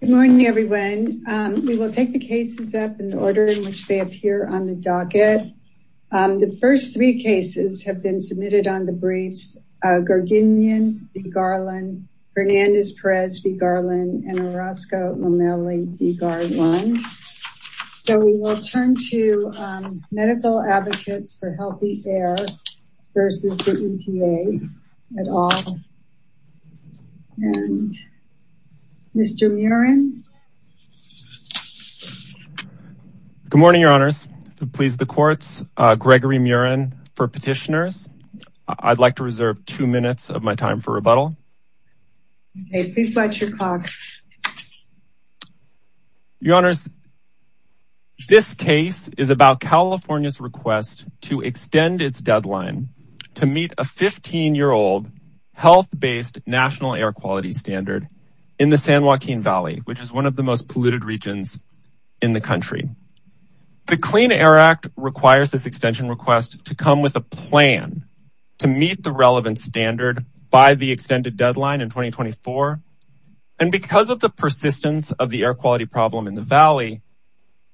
Good morning everyone. We will take the cases up in the order in which they appear on the docket. The first three cases have been submitted on the briefs. Garginian v. Garland, Fernandez-Perez v. Garland, and Orozco-Lomeli v. Garland. So we will turn to Gregory Muren. Good morning, your honors. To please the courts, Gregory Muren for petitioners. I'd like to reserve two minutes of my time for rebuttal. Okay, please watch your clock. Your honors, this case is about California's request to extend its deadline to meet a 15-year-old health-based national air quality standard in the San Joaquin Valley, which is one of the most polluted regions in the country. The Clean Air Act requires this extension request to come with a plan to meet the relevant standard by the extended deadline in 2024. And because of the persistence of the air quality problem in the valley,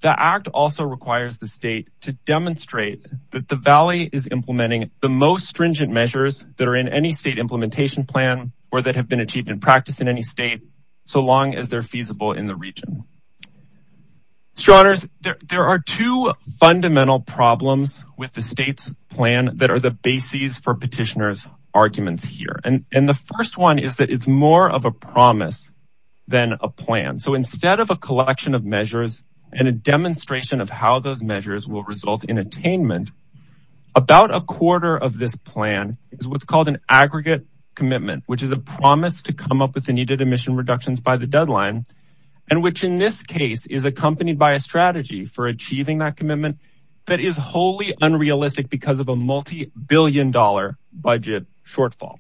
the act also requires the state to demonstrate that the valley is implementing the most stringent measures that are in any state implementation plan or that have been achieved in practice in any state, so long as they're feasible in the region. Your honors, there are two fundamental problems with the state's plan that are the bases for petitioners' arguments here. And the first one is that it's more of a promise than a plan. So instead of a collection of measures and a demonstration of how those are implemented, it's more of an agreement. About a quarter of this plan is what's called an aggregate commitment, which is a promise to come up with the needed emission reductions by the deadline, and which in this case is accompanied by a strategy for achieving that commitment that is wholly unrealistic because of a multi-billion dollar budget shortfall.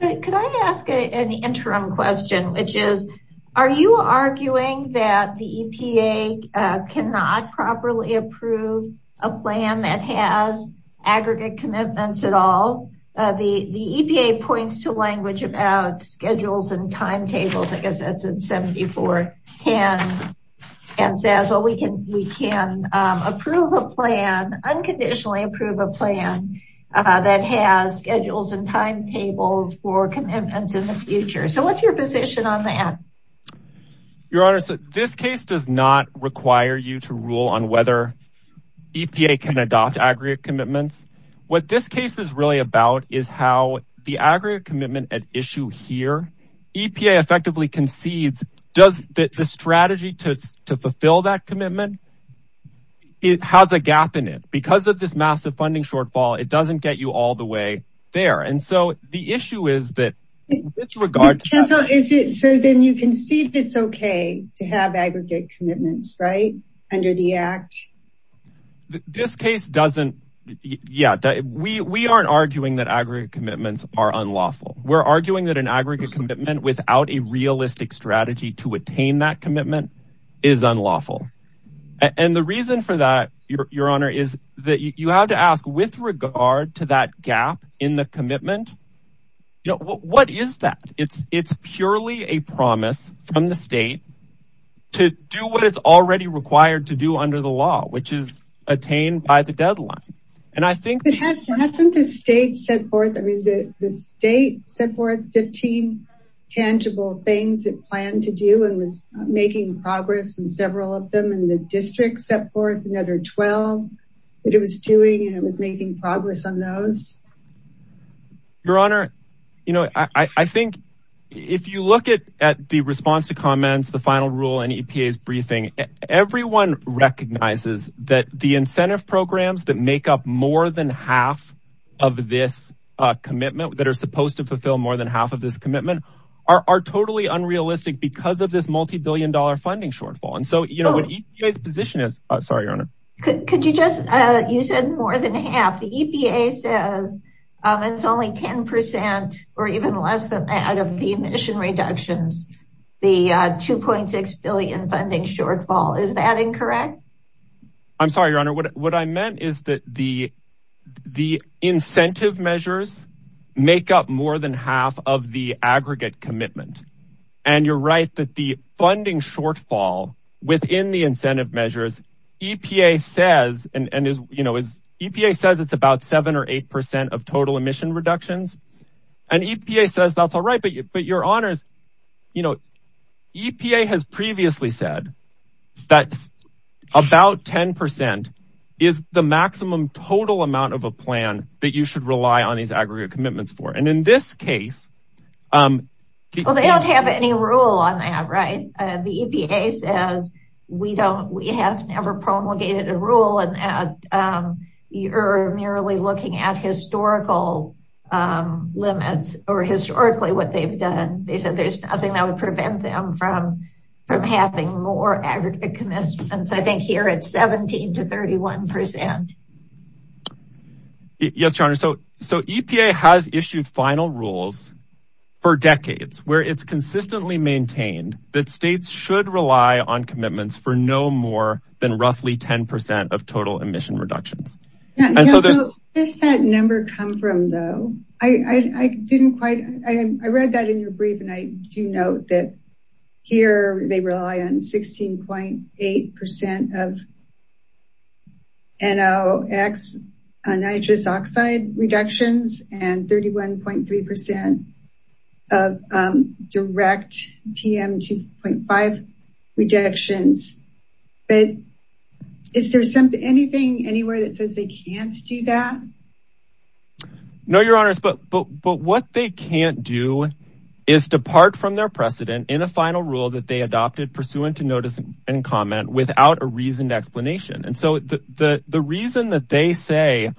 Could I ask an interim question, which is, are you arguing that the EPA cannot properly approve a plan that has aggregate commitments at all? The EPA points to language about schedules and timetables, I guess that's in 7410, and says, well, we can we can approve a plan, that has schedules and timetables for commitments in the future. So what's your position on that? Your honors, this case does not require you to rule on whether EPA can adopt aggregate commitments. What this case is really about is how the aggregate commitment at issue here, EPA effectively concedes, does the strategy to fulfill that commitment, it has a gap in it. Because of this massive funding shortfall, it doesn't get you all the way there. And so the issue is that, in this regard, is it so then you can see if it's okay to have aggregate commitments, right, under the act? This case doesn't, yeah, we aren't arguing that aggregate commitments are unlawful. We're arguing that an aggregate commitment without a realistic strategy to attain that commitment is unlawful. And the reason for that, your honor, is that you have to ask with regard to that gap in the commitment, you know, what is that? It's purely a promise from the state to do what it's already required to do under the law, which is attained by the deadline. And I think that hasn't the state set forth, I mean, the state set forth 15 tangible things it planned to do and was making progress in several of them, and the district set forth another 12 that it was doing, and it was making progress on those. Your honor, you know, I think if you look at the response to comments, the final rule and EPA's briefing, everyone recognizes that the incentive programs that make up more than half of this commitment, that are supposed to fulfill more than half of this commitment, are totally unrealistic because of this multi-billion dollar funding shortfall. And so, you know, what EPA's position is, sorry, your honor. Could you just, you said more than half. The EPA says it's only 10 percent or even less than that of the emission reductions, the 2.6 billion funding shortfall. Is that incorrect? I'm sorry, your honor, what I meant is that the incentive measures make up more than half of the aggregate commitment. And you're right that the funding shortfall within the incentive measures, EPA says it's about 7 or 8 percent of total emission reductions. And EPA says that's all right, but your honors, you know, EPA has total amount of a plan that you should rely on these aggregate commitments for. And in this case, well, they don't have any rule on that, right? The EPA says we don't, we have never promulgated a rule and you're merely looking at historical limits or historically what they've done. They said there's nothing that would prevent them from having more aggregate commitments. I think here it's 17 to 31 percent. Yes, your honor. So EPA has issued final rules for decades where it's consistently maintained that states should rely on commitments for no more than roughly 10 percent of total emission reductions. And so does that number come from though? I didn't quite, I read that in your brief and I do note that here they rely on 16.8 percent of NOx nitrous oxide reductions and 31.3 percent of direct PM 2.5 reductions. But is there anything anywhere that says they can't do that? No, your honors. But what they can't do is depart from their precedent in a final rule that they adopted pursuant to notice and comment without a reasoned explanation. And so the reason that they say,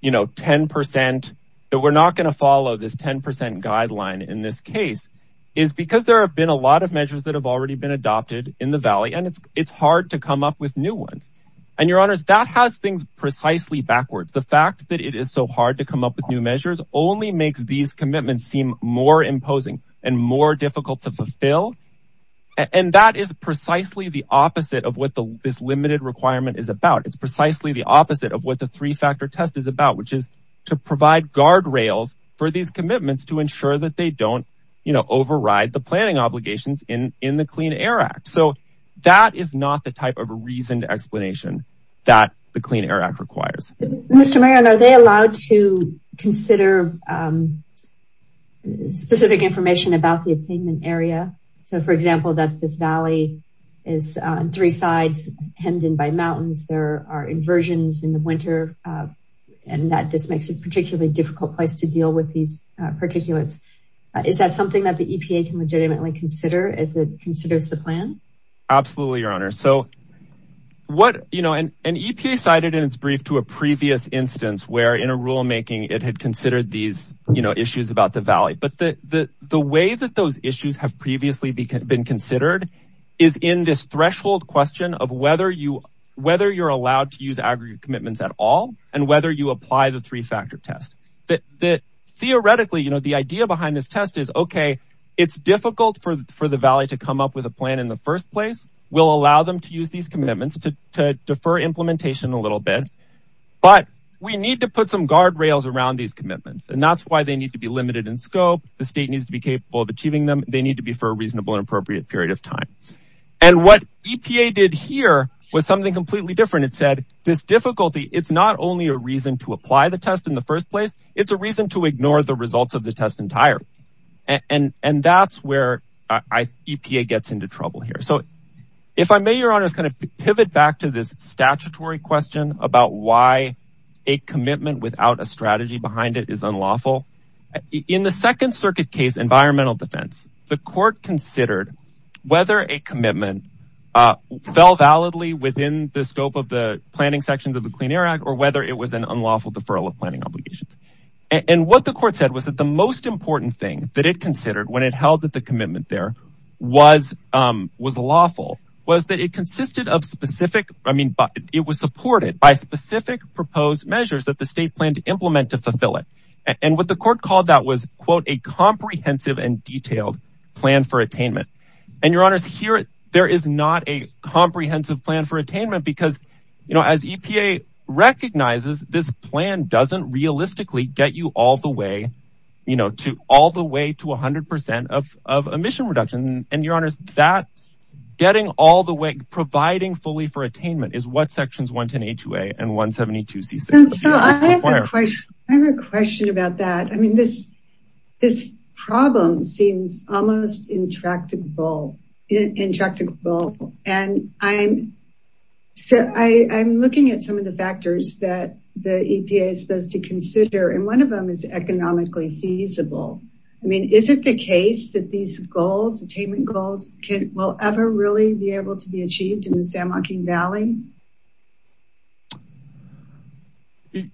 you know, 10 percent that we're not going to follow this 10 percent guideline in this case is because there have been a lot of measures that have already been adopted in the valley and it's hard to come up with new ones. And your honors, that has things precisely backwards. The fact that it is so hard to come up with new measures only makes these commitments seem more imposing and more difficult to fulfill. And that is precisely the opposite of what this limited requirement is about. It's precisely the opposite of what the three factor test is about, which is to provide guardrails for these commitments to ensure that they don't, you know, override the planning obligations in the Clean Air Act. So that is not the type of a reasoned explanation that the Clean Air Act requires. Mr. Mayor, are they allowed to consider specific information about the attainment area? So, for example, that this valley is on three sides hemmed in by mountains. There are inversions in the winter and that this makes it particularly difficult place to deal with these particulates. Is that something that the EPA can legitimately consider as it considers the plan? Absolutely, your honor. So what, you know, an EPA cited in its brief to a previous instance where in a rulemaking it had considered these, you know, issues about the valley. But the way that those issues have previously been considered is in this threshold question of whether you're allowed to use aggregate commitments at all and whether you apply the three factor test. Theoretically, you know, the idea behind this is, okay, it's difficult for the valley to come up with a plan in the first place. We'll allow them to use these commitments to defer implementation a little bit. But we need to put some guardrails around these commitments and that's why they need to be limited in scope. The state needs to be capable of achieving them. They need to be for a reasonable and appropriate period of time. And what EPA did here was something completely different. It said this difficulty, it's not only a reason to apply the test in the first place, it's a reason to and that's where EPA gets into trouble here. So if I may, your honor is going to pivot back to this statutory question about why a commitment without a strategy behind it is unlawful. In the second circuit case, environmental defense, the court considered whether a commitment fell validly within the scope of the planning sections of the Clean Air Act or whether it was an unlawful deferral of planning obligations. And what the court said was that the most important thing that it considered when it held that the commitment there was lawful was that it consisted of specific, I mean, it was supported by specific proposed measures that the state planned to implement to fulfill it. And what the court called that was, quote, a comprehensive and detailed plan for attainment. And your honors here, there is not a comprehensive plan for attainment because as EPA recognizes, this plan doesn't realistically get you all the way to 100% of emission reduction. And your honors, that getting all the way, providing fully for attainment is what sections 110A2A and 172C6 require. I have a question about that. I mean, this problem seems almost intractable. And I'm looking at some of the factors that the EPA is supposed to consider. And one of them is economically feasible. I mean, is it the case that these goals, attainment goals will ever really be able to be achieved in the San Joaquin Valley?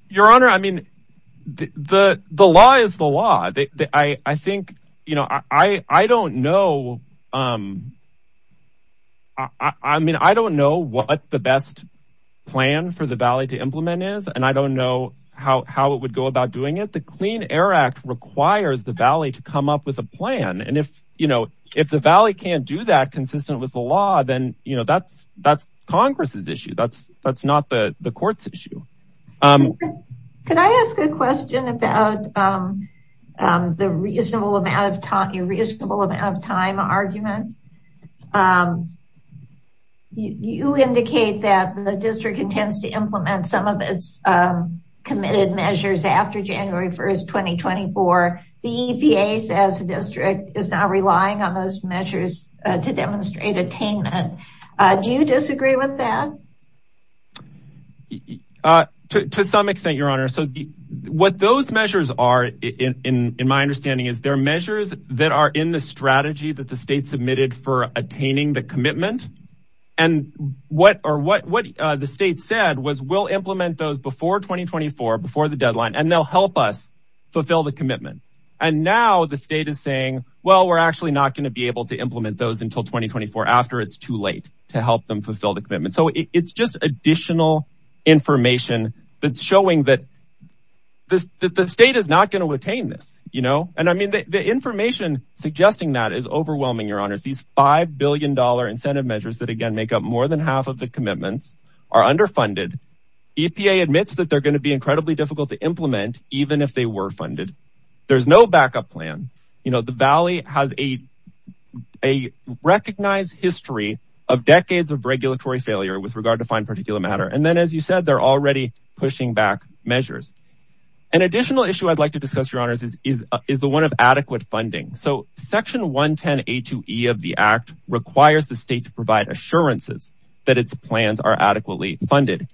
Your honor, I mean, the law is the law. I think, you know, I don't know. I mean, I don't know what the best plan for the valley to implement is. And I don't know how it would go about doing it. The Clean Air Act requires the valley to come up with a plan. And if, you know, if the valley can't do that consistent with the law, then, you know, that's Congress's issue. That's not the court's issue. Could I ask a question about the reasonable amount of time argument? You indicate that the district intends to implement some of its committed measures after January 1st, 2024. The EPA says the district is not relying on those measures to demonstrate attainment. Do you disagree with that? To some extent, your honor. So what those measures are, in my understanding, is they're measures that are in the strategy that the state submitted for attaining the commitment. And what the state said was, we'll implement those before 2024, before the deadline, and they'll help us fulfill the commitment. And now the state is saying, well, we're actually not going to be able to implement those until 2024 after it's too late to help them fulfill the commitment. So it's just additional information that's showing that the state is not going to attain this, you know. And I mean, the information suggesting that is overwhelming, your honors. These $5 billion incentive measures that, again, make up more than half of the commitments are underfunded. EPA admits that they're going to be incredibly difficult to implement, even if they were funded. There's no backup plan. You know, the Valley has a recognized history of decades of regulatory failure with regard to fine particulate matter. And then, as you said, they're already pushing back measures. An additional issue I'd like to discuss, your honors, is the one of adequate funding. So section 110A2E of the act requires the state to provide assurances that its plans are adequately funded.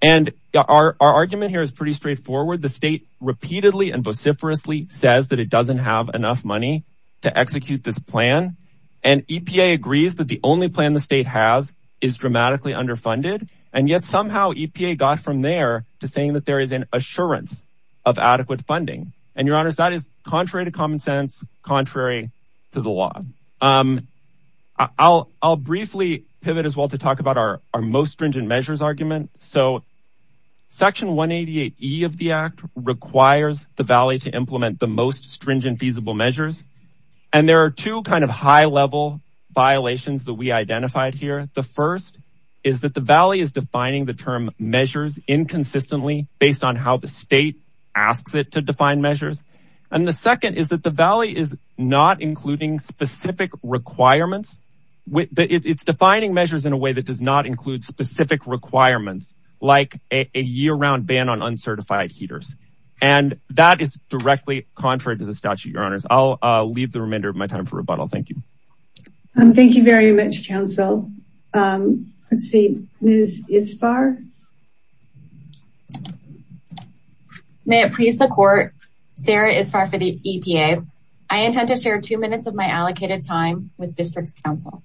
And our argument here pretty straightforward. The state repeatedly and vociferously says that it doesn't have enough money to execute this plan. And EPA agrees that the only plan the state has is dramatically underfunded. And yet somehow EPA got from there to saying that there is an assurance of adequate funding. And your honors, that is contrary to common sense, contrary to the law. I'll briefly pivot as well to talk about our most stringent measures argument. So section 188E of the act requires the Valley to implement the most stringent feasible measures. And there are two kind of high level violations that we identified here. The first is that the Valley is defining the term measures inconsistently based on how the state asks it to define measures. And the second is that the Valley is not including specific requirements. It's defining measures in a way that does not include specific requirements, like a year round ban on uncertified heaters. And that is directly contrary to the statute, your honors. I'll leave the remainder of my time for rebuttal. Thank you. Thank you very much, council. Let's see, Ms. Isbar. May it please the court, Sarah Isbar for the EPA. I intend to share two minutes of my allocated time with district's counsel.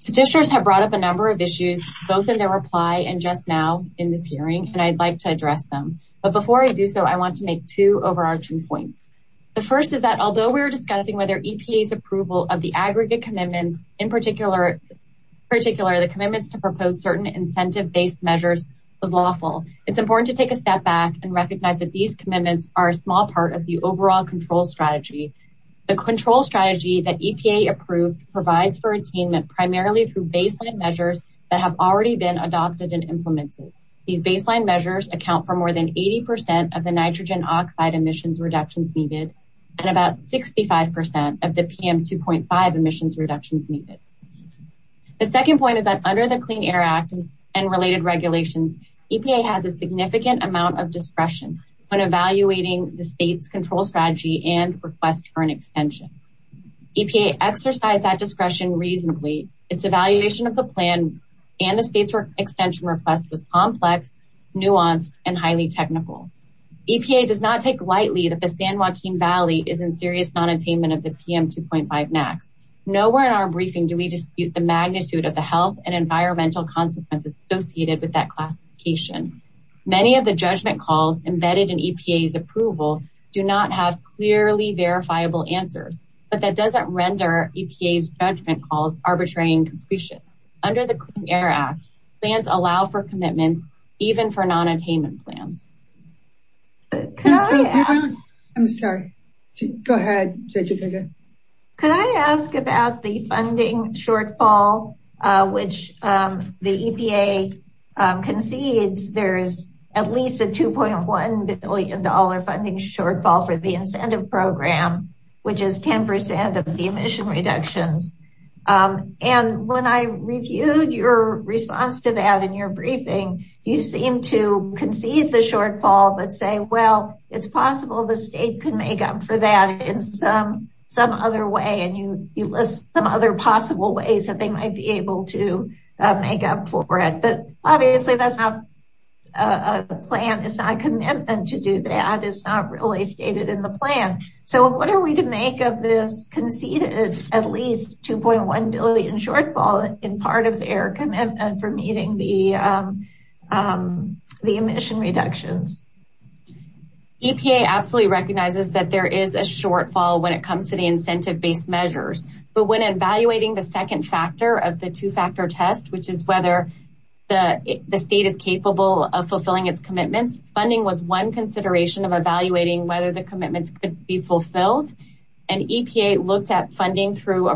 Statistics have brought up a number of issues, both in their reply and just now in this hearing, and I'd like to address them. But before I do so, I want to make two overarching points. The first is that although we're discussing whether EPA's approval of the aggregate commitments, in particular, the commitments to propose certain instruments incentive based measures was lawful. It's important to take a step back and recognize that these commitments are a small part of the overall control strategy. The control strategy that EPA approved provides for attainment, primarily through baseline measures that have already been adopted and implemented. These baseline measures account for more than 80% of the nitrogen oxide emissions reductions needed, and about 65% of the PM 2.5 emissions reductions needed. The second point is that under the Clean Air Act and related regulations, EPA has a significant amount of discretion when evaluating the state's control strategy and request for an extension. EPA exercised that discretion reasonably. Its evaluation of the plan and the state's extension request was complex, nuanced, and highly technical. EPA does not take lightly that the San Juan area has a PM 2.5 NAAQS. Nowhere in our briefing do we dispute the magnitude of the health and environmental consequences associated with that classification. Many of the judgment calls embedded in EPA's approval do not have clearly verifiable answers, but that doesn't render EPA's judgment calls arbitrary and completion. Under the Clean Air Act, plans allow for commitments even for shortfall. Could I ask about the funding shortfall which the EPA concedes? There is at least a $2.1 billion funding shortfall for the incentive program, which is 10% of the emission reductions. When I reviewed your response to that in your briefing, you seemed to concede the shortfall, but say, well, it's possible the state could make up for that in some other way. You list some other possible ways that they might be able to make up for it. Obviously, that's not a plan. It's not a commitment to do that. It's not really stated in the plan. What are we to make of this conceded at least $2.1 billion shortfall in part of their commitment for meeting the emission reductions? EPA absolutely recognizes that there is a shortfall when it comes to the incentive-based measures, but when evaluating the second factor of the two-factor test, which is whether the state is capable of fulfilling its commitments, funding was one consideration of evaluating whether the commitments could be fulfilled. EPA looked at funding through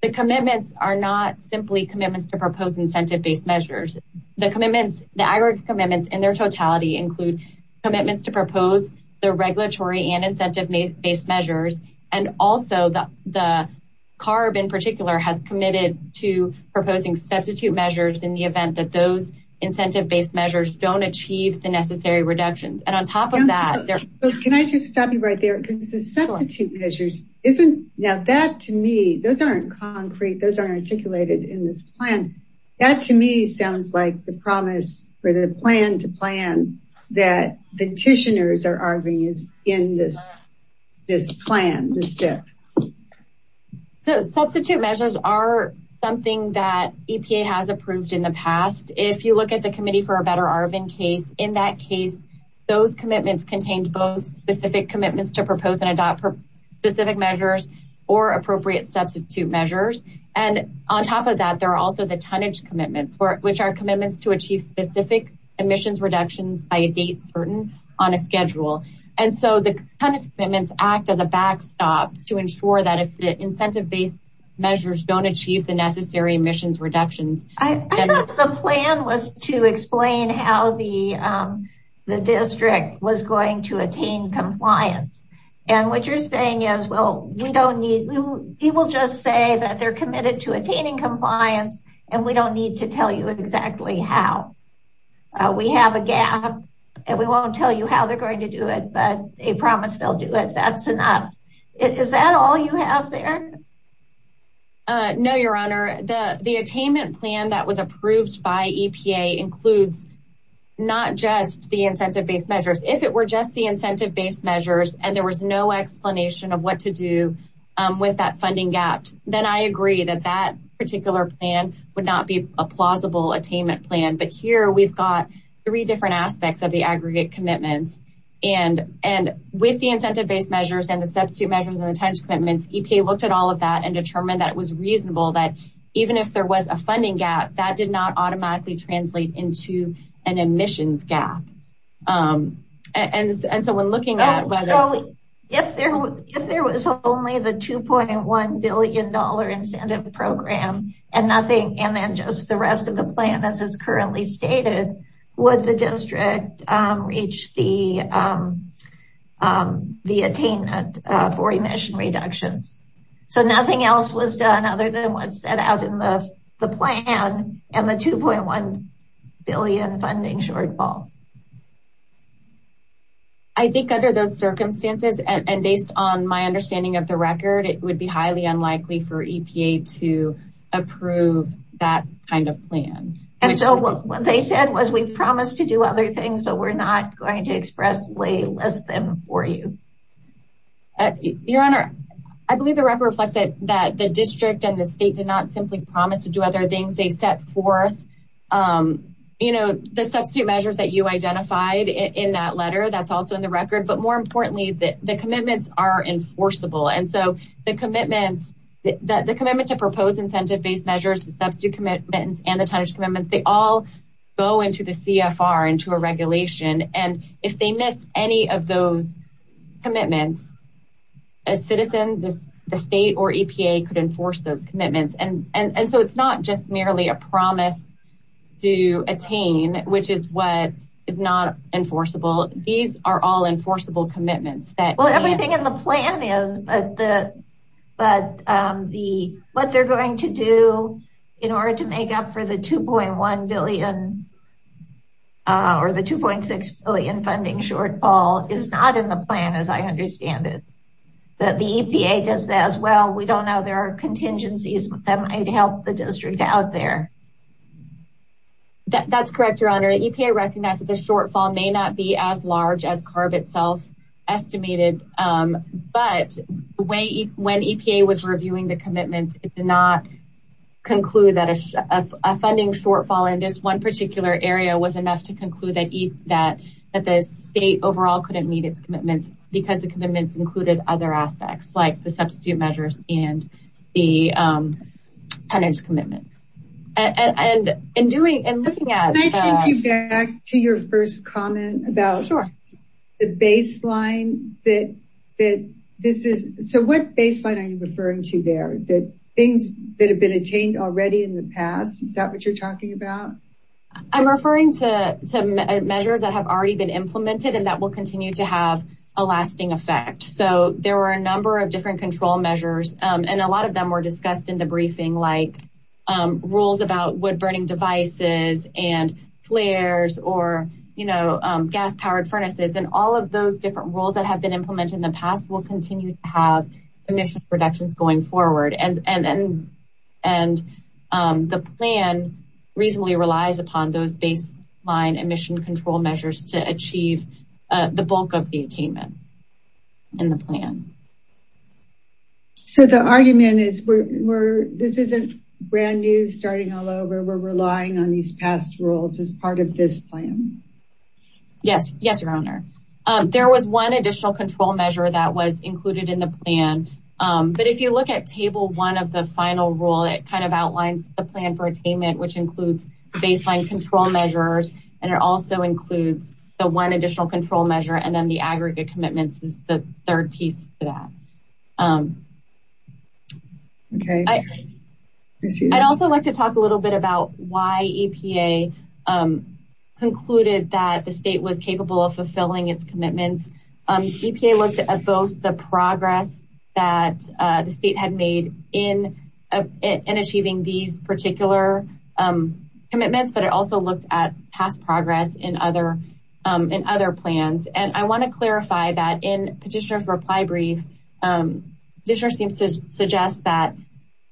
a commitment to propose incentive-based measures. The aggregate commitments in their totality include commitments to propose the regulatory and incentive-based measures. Also, CARB in particular has committed to proposing substitute measures in the event that those incentive-based measures don't achieve the necessary reductions. On top of that, can I just stop you right there? The substitute measures aren't concrete. Those aren't articulated in this plan. That to me sounds like the promise or the plan to plan that petitioners are arguing is in this plan. Substitute measures are something that EPA has approved in the past. If you look at the Committee for a Better Arvin case, in that case, those commitments contained both specific to propose and adopt specific measures or appropriate substitute measures. On top of that, there are also the tonnage commitments, which are commitments to achieve specific emissions reductions by a date certain on a schedule. The tonnage commitments act as a backstop to ensure that if the incentive-based measures don't achieve the necessary emissions reductions. I thought the plan was to explain how the district was going to attain compliance. What you're saying is, people just say that they're committed to attaining compliance and we don't need to tell you exactly how. We have a gap and we won't tell you how they're going to do it, but they promise they'll do it. That's enough. Is that all you have there? No, Your Honor. The attainment plan that was approved by EPA includes not just the incentive-based measures. If it were just the incentive-based measures and there was no explanation of what to do with that funding gap, then I agree that that particular plan would not be a plausible attainment plan. But here, we've got three different aspects of the aggregate commitments. With the incentive-based measures and the substitute measures and the tonnage commitments, EPA looked at all of that and determined that it was reasonable that even if there was a funding gap, that did not automatically translate into an emissions gap. If there was only the $2.1 billion incentive program and nothing and then just the rest of the plan as is currently stated, would the district reach the attainment for emission reductions? So, nothing else was done other than what's set out in the plan and the $2.1 billion funding shortfall. I think under those circumstances and based on my understanding of the record, it would be highly unlikely for EPA to approve that kind of plan. And so, what they said was, we've promised to do other things, but we're not going to expressly list them for you. Your Honor, I believe the record reflects that the district and the state did not simply promise to do other things. They set forth the substitute measures that you identified in that letter. That's also in the record. But more importantly, the commitments are enforceable. And so, the commitment to propose incentive-based measures, the substitute commitments, and the tonnage commitments, they all go into the CFR, into a regulation. And if they miss any of those commitments, a citizen, the state, or EPA could enforce those commitments. And so, it's not just merely a promise to attain, which is what is not enforceable. These are all enforceable commitments. Well, everything in the plan is, but what they're going to do in order to make up for the $2.1 billion or the $2.6 billion funding shortfall is not in the plan, as I understand it. But the EPA just says, well, we don't know. There are contingencies that might help the district out there. That's correct, Your Honor. EPA recognizes the shortfall may not be as large as CARB itself estimated. But when EPA was reviewing the commitments, it did not conclude that a funding shortfall in this one particular area was enough to conclude that the state overall couldn't meet its commitments because the commitments included other aspects, like the substitute measures and the tonnage commitment. And in doing, in looking at- Can I take you back to your first comment about the baseline that this is? So, what baseline are you talking about? I'm referring to measures that have already been implemented and that will continue to have a lasting effect. So, there were a number of different control measures, and a lot of them were discussed in the briefing, like rules about wood-burning devices and flares or, you know, gas-powered furnaces. And all of those different rules that have been implemented in the past will continue to have emissions reductions going forward. And the plan reasonably relies upon those baseline emission control measures to achieve the bulk of the attainment in the plan. So, the argument is this isn't brand new, starting all over. We're relying on these past rules as part of this plan. Yes, Your Honor. There was one additional control measure that was included in the plan. But if you look at Table 1 of the final rule, it kind of outlines the plan for attainment, which includes baseline control measures, and it also includes the one additional control measure and then the aggregate commitments is the third piece to that. Okay. I'd also like to talk a little bit about why EPA concluded that the state was capable of fulfilling its commitments. EPA looked at both the progress that the state had made in achieving these particular commitments, but it also looked at past progress in other plans. And I want to clarify that in Petitioner's reply brief, Petitioner seems to suggest that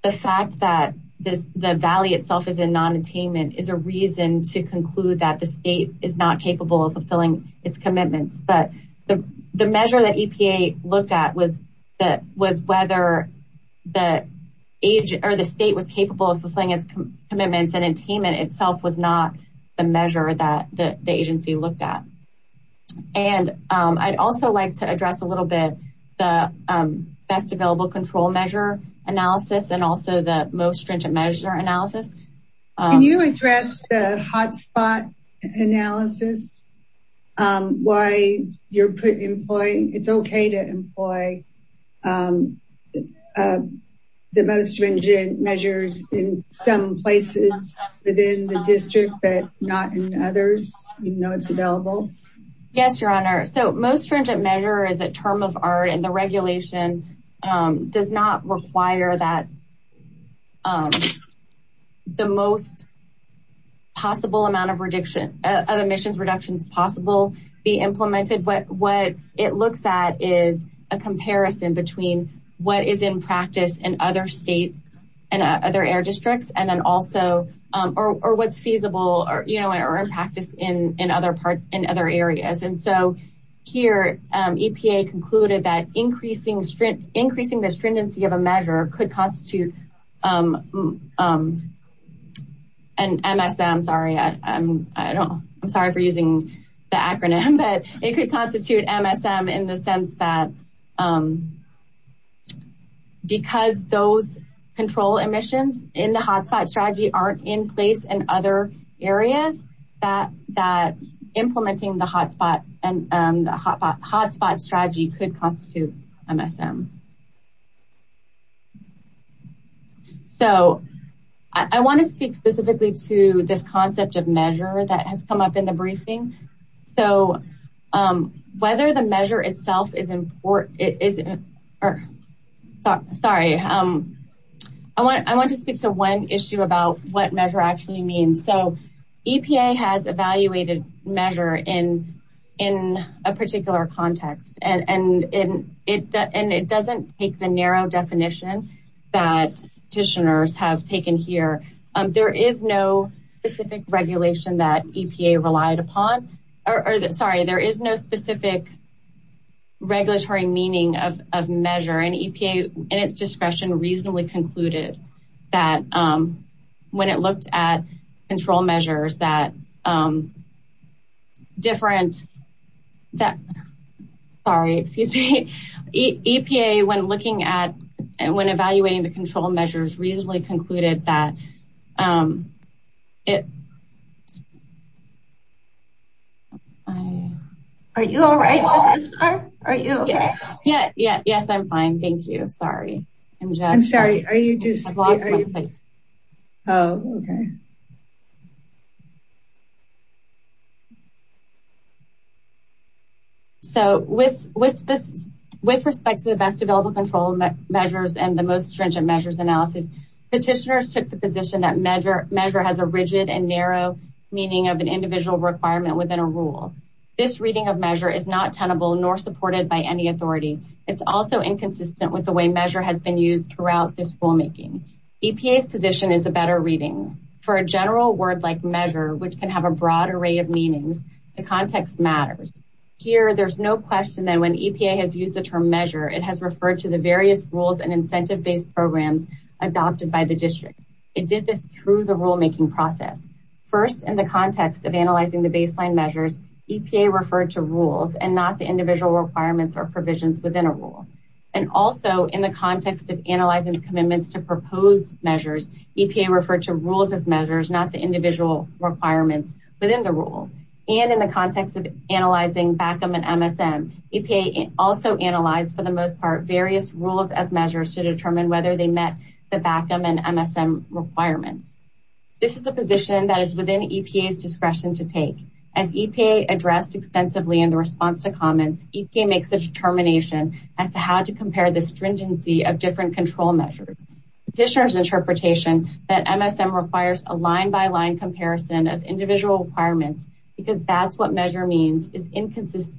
the fact that the valley itself is in non-attainment is a reason to conclude that the state is not capable of fulfilling its commitments. But the measure that EPA looked at was whether the state was capable of fulfilling its commitments and attainment itself was not the measure that the agency looked at. And I'd also like to address a little bit the best available control measure analysis and also the most stringent measure analysis. Can you address the hotspot analysis, why it's okay to employ the most stringent measures in some places within the district, but not in others, even though it's available? Yes, Your Honor. So most stringent measure is term of art and the regulation does not require that the most possible amount of emissions reductions possible be implemented. What it looks at is a comparison between what is in practice in other states and other air districts and then also, or what's feasible or in practice in other areas. And so here, EPA concluded that increasing the stringency of a measure could constitute an MSM, sorry, I'm sorry for using the acronym, but it could constitute MSM in the sense that because those control emissions in the hotspot strategy aren't in place in other areas, that implementing the hotspot strategy could constitute MSM. So I want to speak specifically to this concept of measure that has come up in the briefing. So whether the measure itself is important, sorry, I want to speak to one issue about what measure actually means. So EPA has evaluated measure in a particular context and it doesn't take the narrow definition that petitioners have taken here. There is no specific regulation that EPA relied upon, or sorry, there is no specific regulatory meaning of measure and EPA in its discretion reasonably concluded that when it looked at control measures that different, sorry, excuse me, EPA when evaluating the control measures reasonably concluded that it, are you all right? Are you okay? Yeah, yes, I'm fine. Thank you. Sorry. So with respect to the best available control measures and the most stringent measures analysis, petitioners took the position that measure has a rigid and narrow meaning of an individual requirement within a rule. This reading of measure is not tenable nor supported by any authority. It's also inconsistent with the way measure has been used throughout this rulemaking. EPA's position is a better reading. For a general word like measure, which can have a broad array of meanings, the context matters. Here, there's no question that when EPA has used the term measure, it has referred to the various rules and incentive-based programs adopted by the district. It did this through the rulemaking process. First, in the context of analyzing the baseline measures, EPA referred to rules and not the individual requirements or provisions within a rule. And also in the context of analyzing the commitments to propose measures, EPA referred to rules as measures, not the individual requirements within the rule. And in the various rules as measures to determine whether they met the BACM and MSM requirements. This is a position that is within EPA's discretion to take. As EPA addressed extensively in the response to comments, EPA makes the determination as to how to compare the stringency of different control measures. Petitioners' interpretation that MSM requires a line-by-line comparison of individual requirements because that's what measure means is inconsistent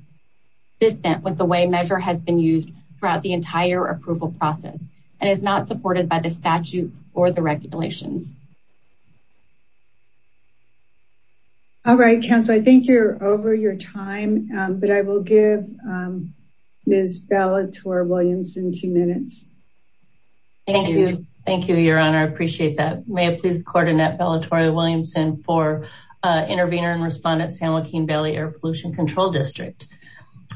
with the way measure has been used throughout the entire approval process and is not supported by the statute or the regulations. All right, Council, I think you're over your time, but I will give Ms. Bellator-Williamson two minutes. Thank you. Thank you, Your Honor. I appreciate that. May I please coordinate Bellator-Williamson for intervener and respondent, San Joaquin Valley Air Pollution Control District.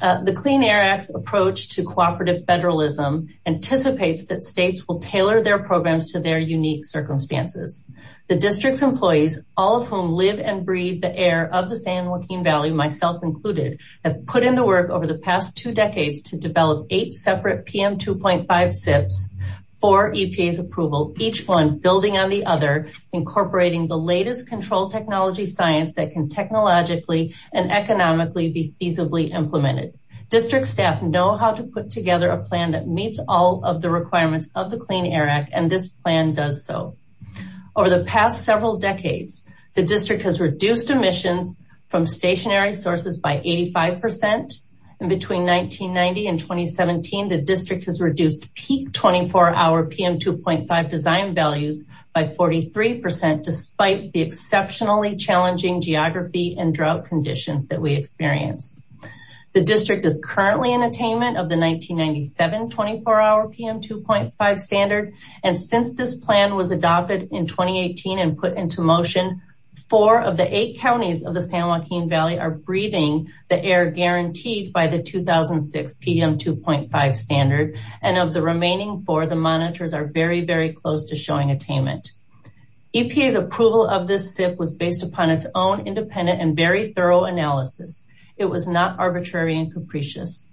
The Clean Air Act's approach to cooperative federalism anticipates that states will tailor their programs to their unique circumstances. The district's employees, all of whom live and breathe the air of the San Joaquin Valley, myself included, have put in the work over the past two decades to develop eight separate PM2.5 SIPs for EPA's approval, each one building on the other, incorporating the latest control technology science that can technologically and economically be feasibly implemented. District staff know how to put together a plan that meets all of the requirements of the Clean Air Act, and this plan does so. Over the past several decades, the district has reduced emissions from stationary sources by 85%, and between 1990 and 2017, the district has reduced peak 24-hour PM2.5 design values by 43%, despite the exceptionally challenging geography and drought conditions that we experience. The district is currently in attainment of the 1997 24-hour PM2.5 standard, and since this plan was adopted in 2018 and put into motion, four of the eight counties of the San Joaquin Valley are breathing the air guaranteed by the 2006 PM2.5 standard, and of the remaining four, the monitors are very, very close to showing attainment. EPA's approval of this SIP was based upon its own independent and very thorough analysis. It was not arbitrary and capricious.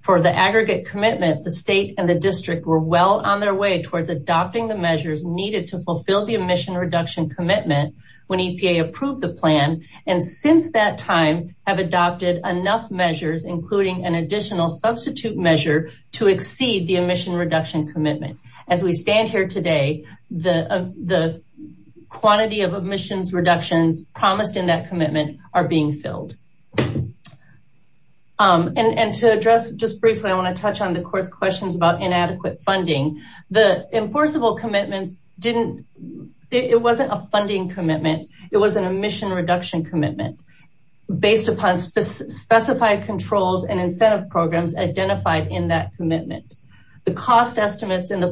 For the aggregate commitment, the state and the district were well on their way towards adopting the measures needed to fulfill the emission reduction commitment when EPA approved the plan, and since that time have adopted enough measures, including an additional substitute measure to exceed the emission reduction commitment. As we stand here today, the quantity of emissions reductions promised in that commitment are being filled. And to address just briefly, I want to touch on the court's questions about inadequate funding. The enforceable commitments didn't, it wasn't a funding commitment. It was an emission reduction commitment based upon specified controls and incentive programs identified in that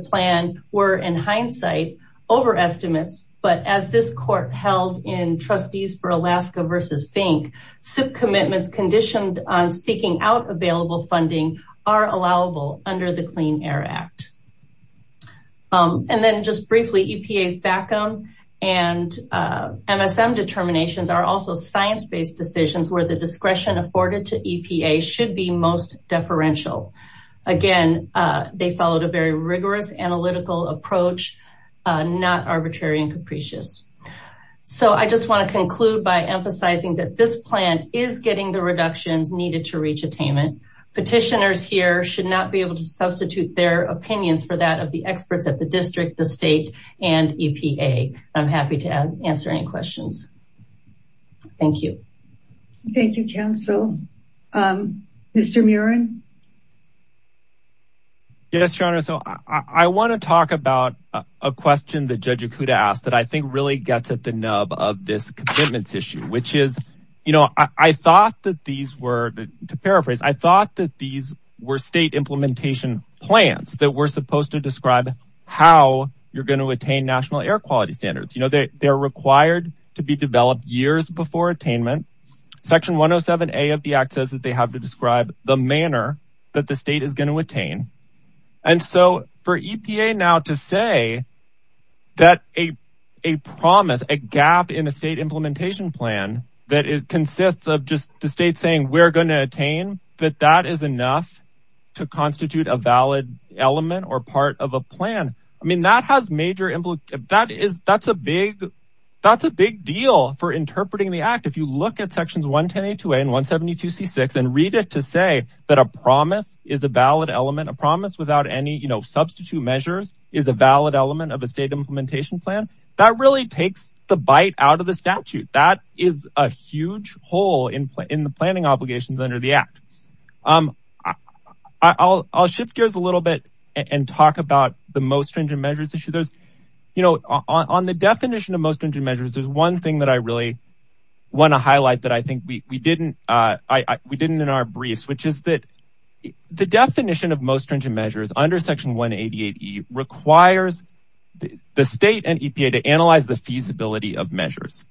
plan were, in hindsight, overestimates, but as this court held in trustees for Alaska versus Fink, SIP commitments conditioned on seeking out available funding are allowable under the Clean Air Act. And then just briefly, EPA's BACM and MSM determinations are also science-based decisions where the discretion afforded to EPA should be most deferential. Again, they followed a very balanced analytical approach, not arbitrary and capricious. So I just want to conclude by emphasizing that this plan is getting the reductions needed to reach attainment. Petitioners here should not be able to substitute their opinions for that of the experts at the district, the state, and EPA. I'm happy to answer any questions. Thank you. Thank you, counsel. Mr. Murren? Yes, your honor. So I want to talk about a question that Judge Okuda asked that I think really gets at the nub of this commitments issue, which is, you know, I thought that these were, to paraphrase, I thought that these were state implementation plans that were supposed to describe how you're going to attain national air quality standards. You know, they're required to be developed years before attainment. Section 107A of the act says that they have to describe the manner in which that the state is going to attain. And so for EPA now to say that a promise, a gap in a state implementation plan, that it consists of just the state saying we're going to attain, that that is enough to constitute a valid element or part of a plan. I mean, that has major implications. That is, that's a big, that's a big deal for interpreting the act. If you look at sections 110A and 172C6 and read it to say that a promise is a valid element, a promise without any, you know, substitute measures is a valid element of a state implementation plan, that really takes the bite out of the statute. That is a huge hole in the planning obligations under the act. I'll shift gears a little bit and talk about the most stringent measures issue. There's, you know, on the definition of most stringent measures, there's one thing that I really want to highlight that I think we didn't, we didn't in our briefs, which is that the definition of most stringent measures under section 188E requires the state and EPA to analyze the feasibility of measures.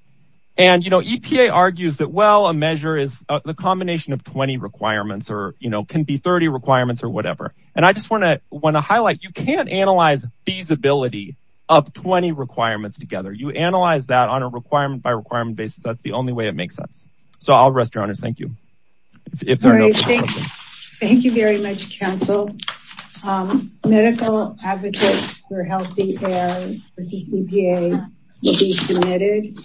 And, you know, EPA argues that, well, a measure is the combination of 20 requirements or, you know, can be 30 requirements or whatever. And I just want to, want to highlight, you can't analyze feasibility of 20 requirements together. You analyze that on a requirement by requirement basis. That's the only way it makes sense. So I'll rest your honors. Thank you. Thank you very much, counsel. Medical advocates for healthy care for CCPA will be submitted.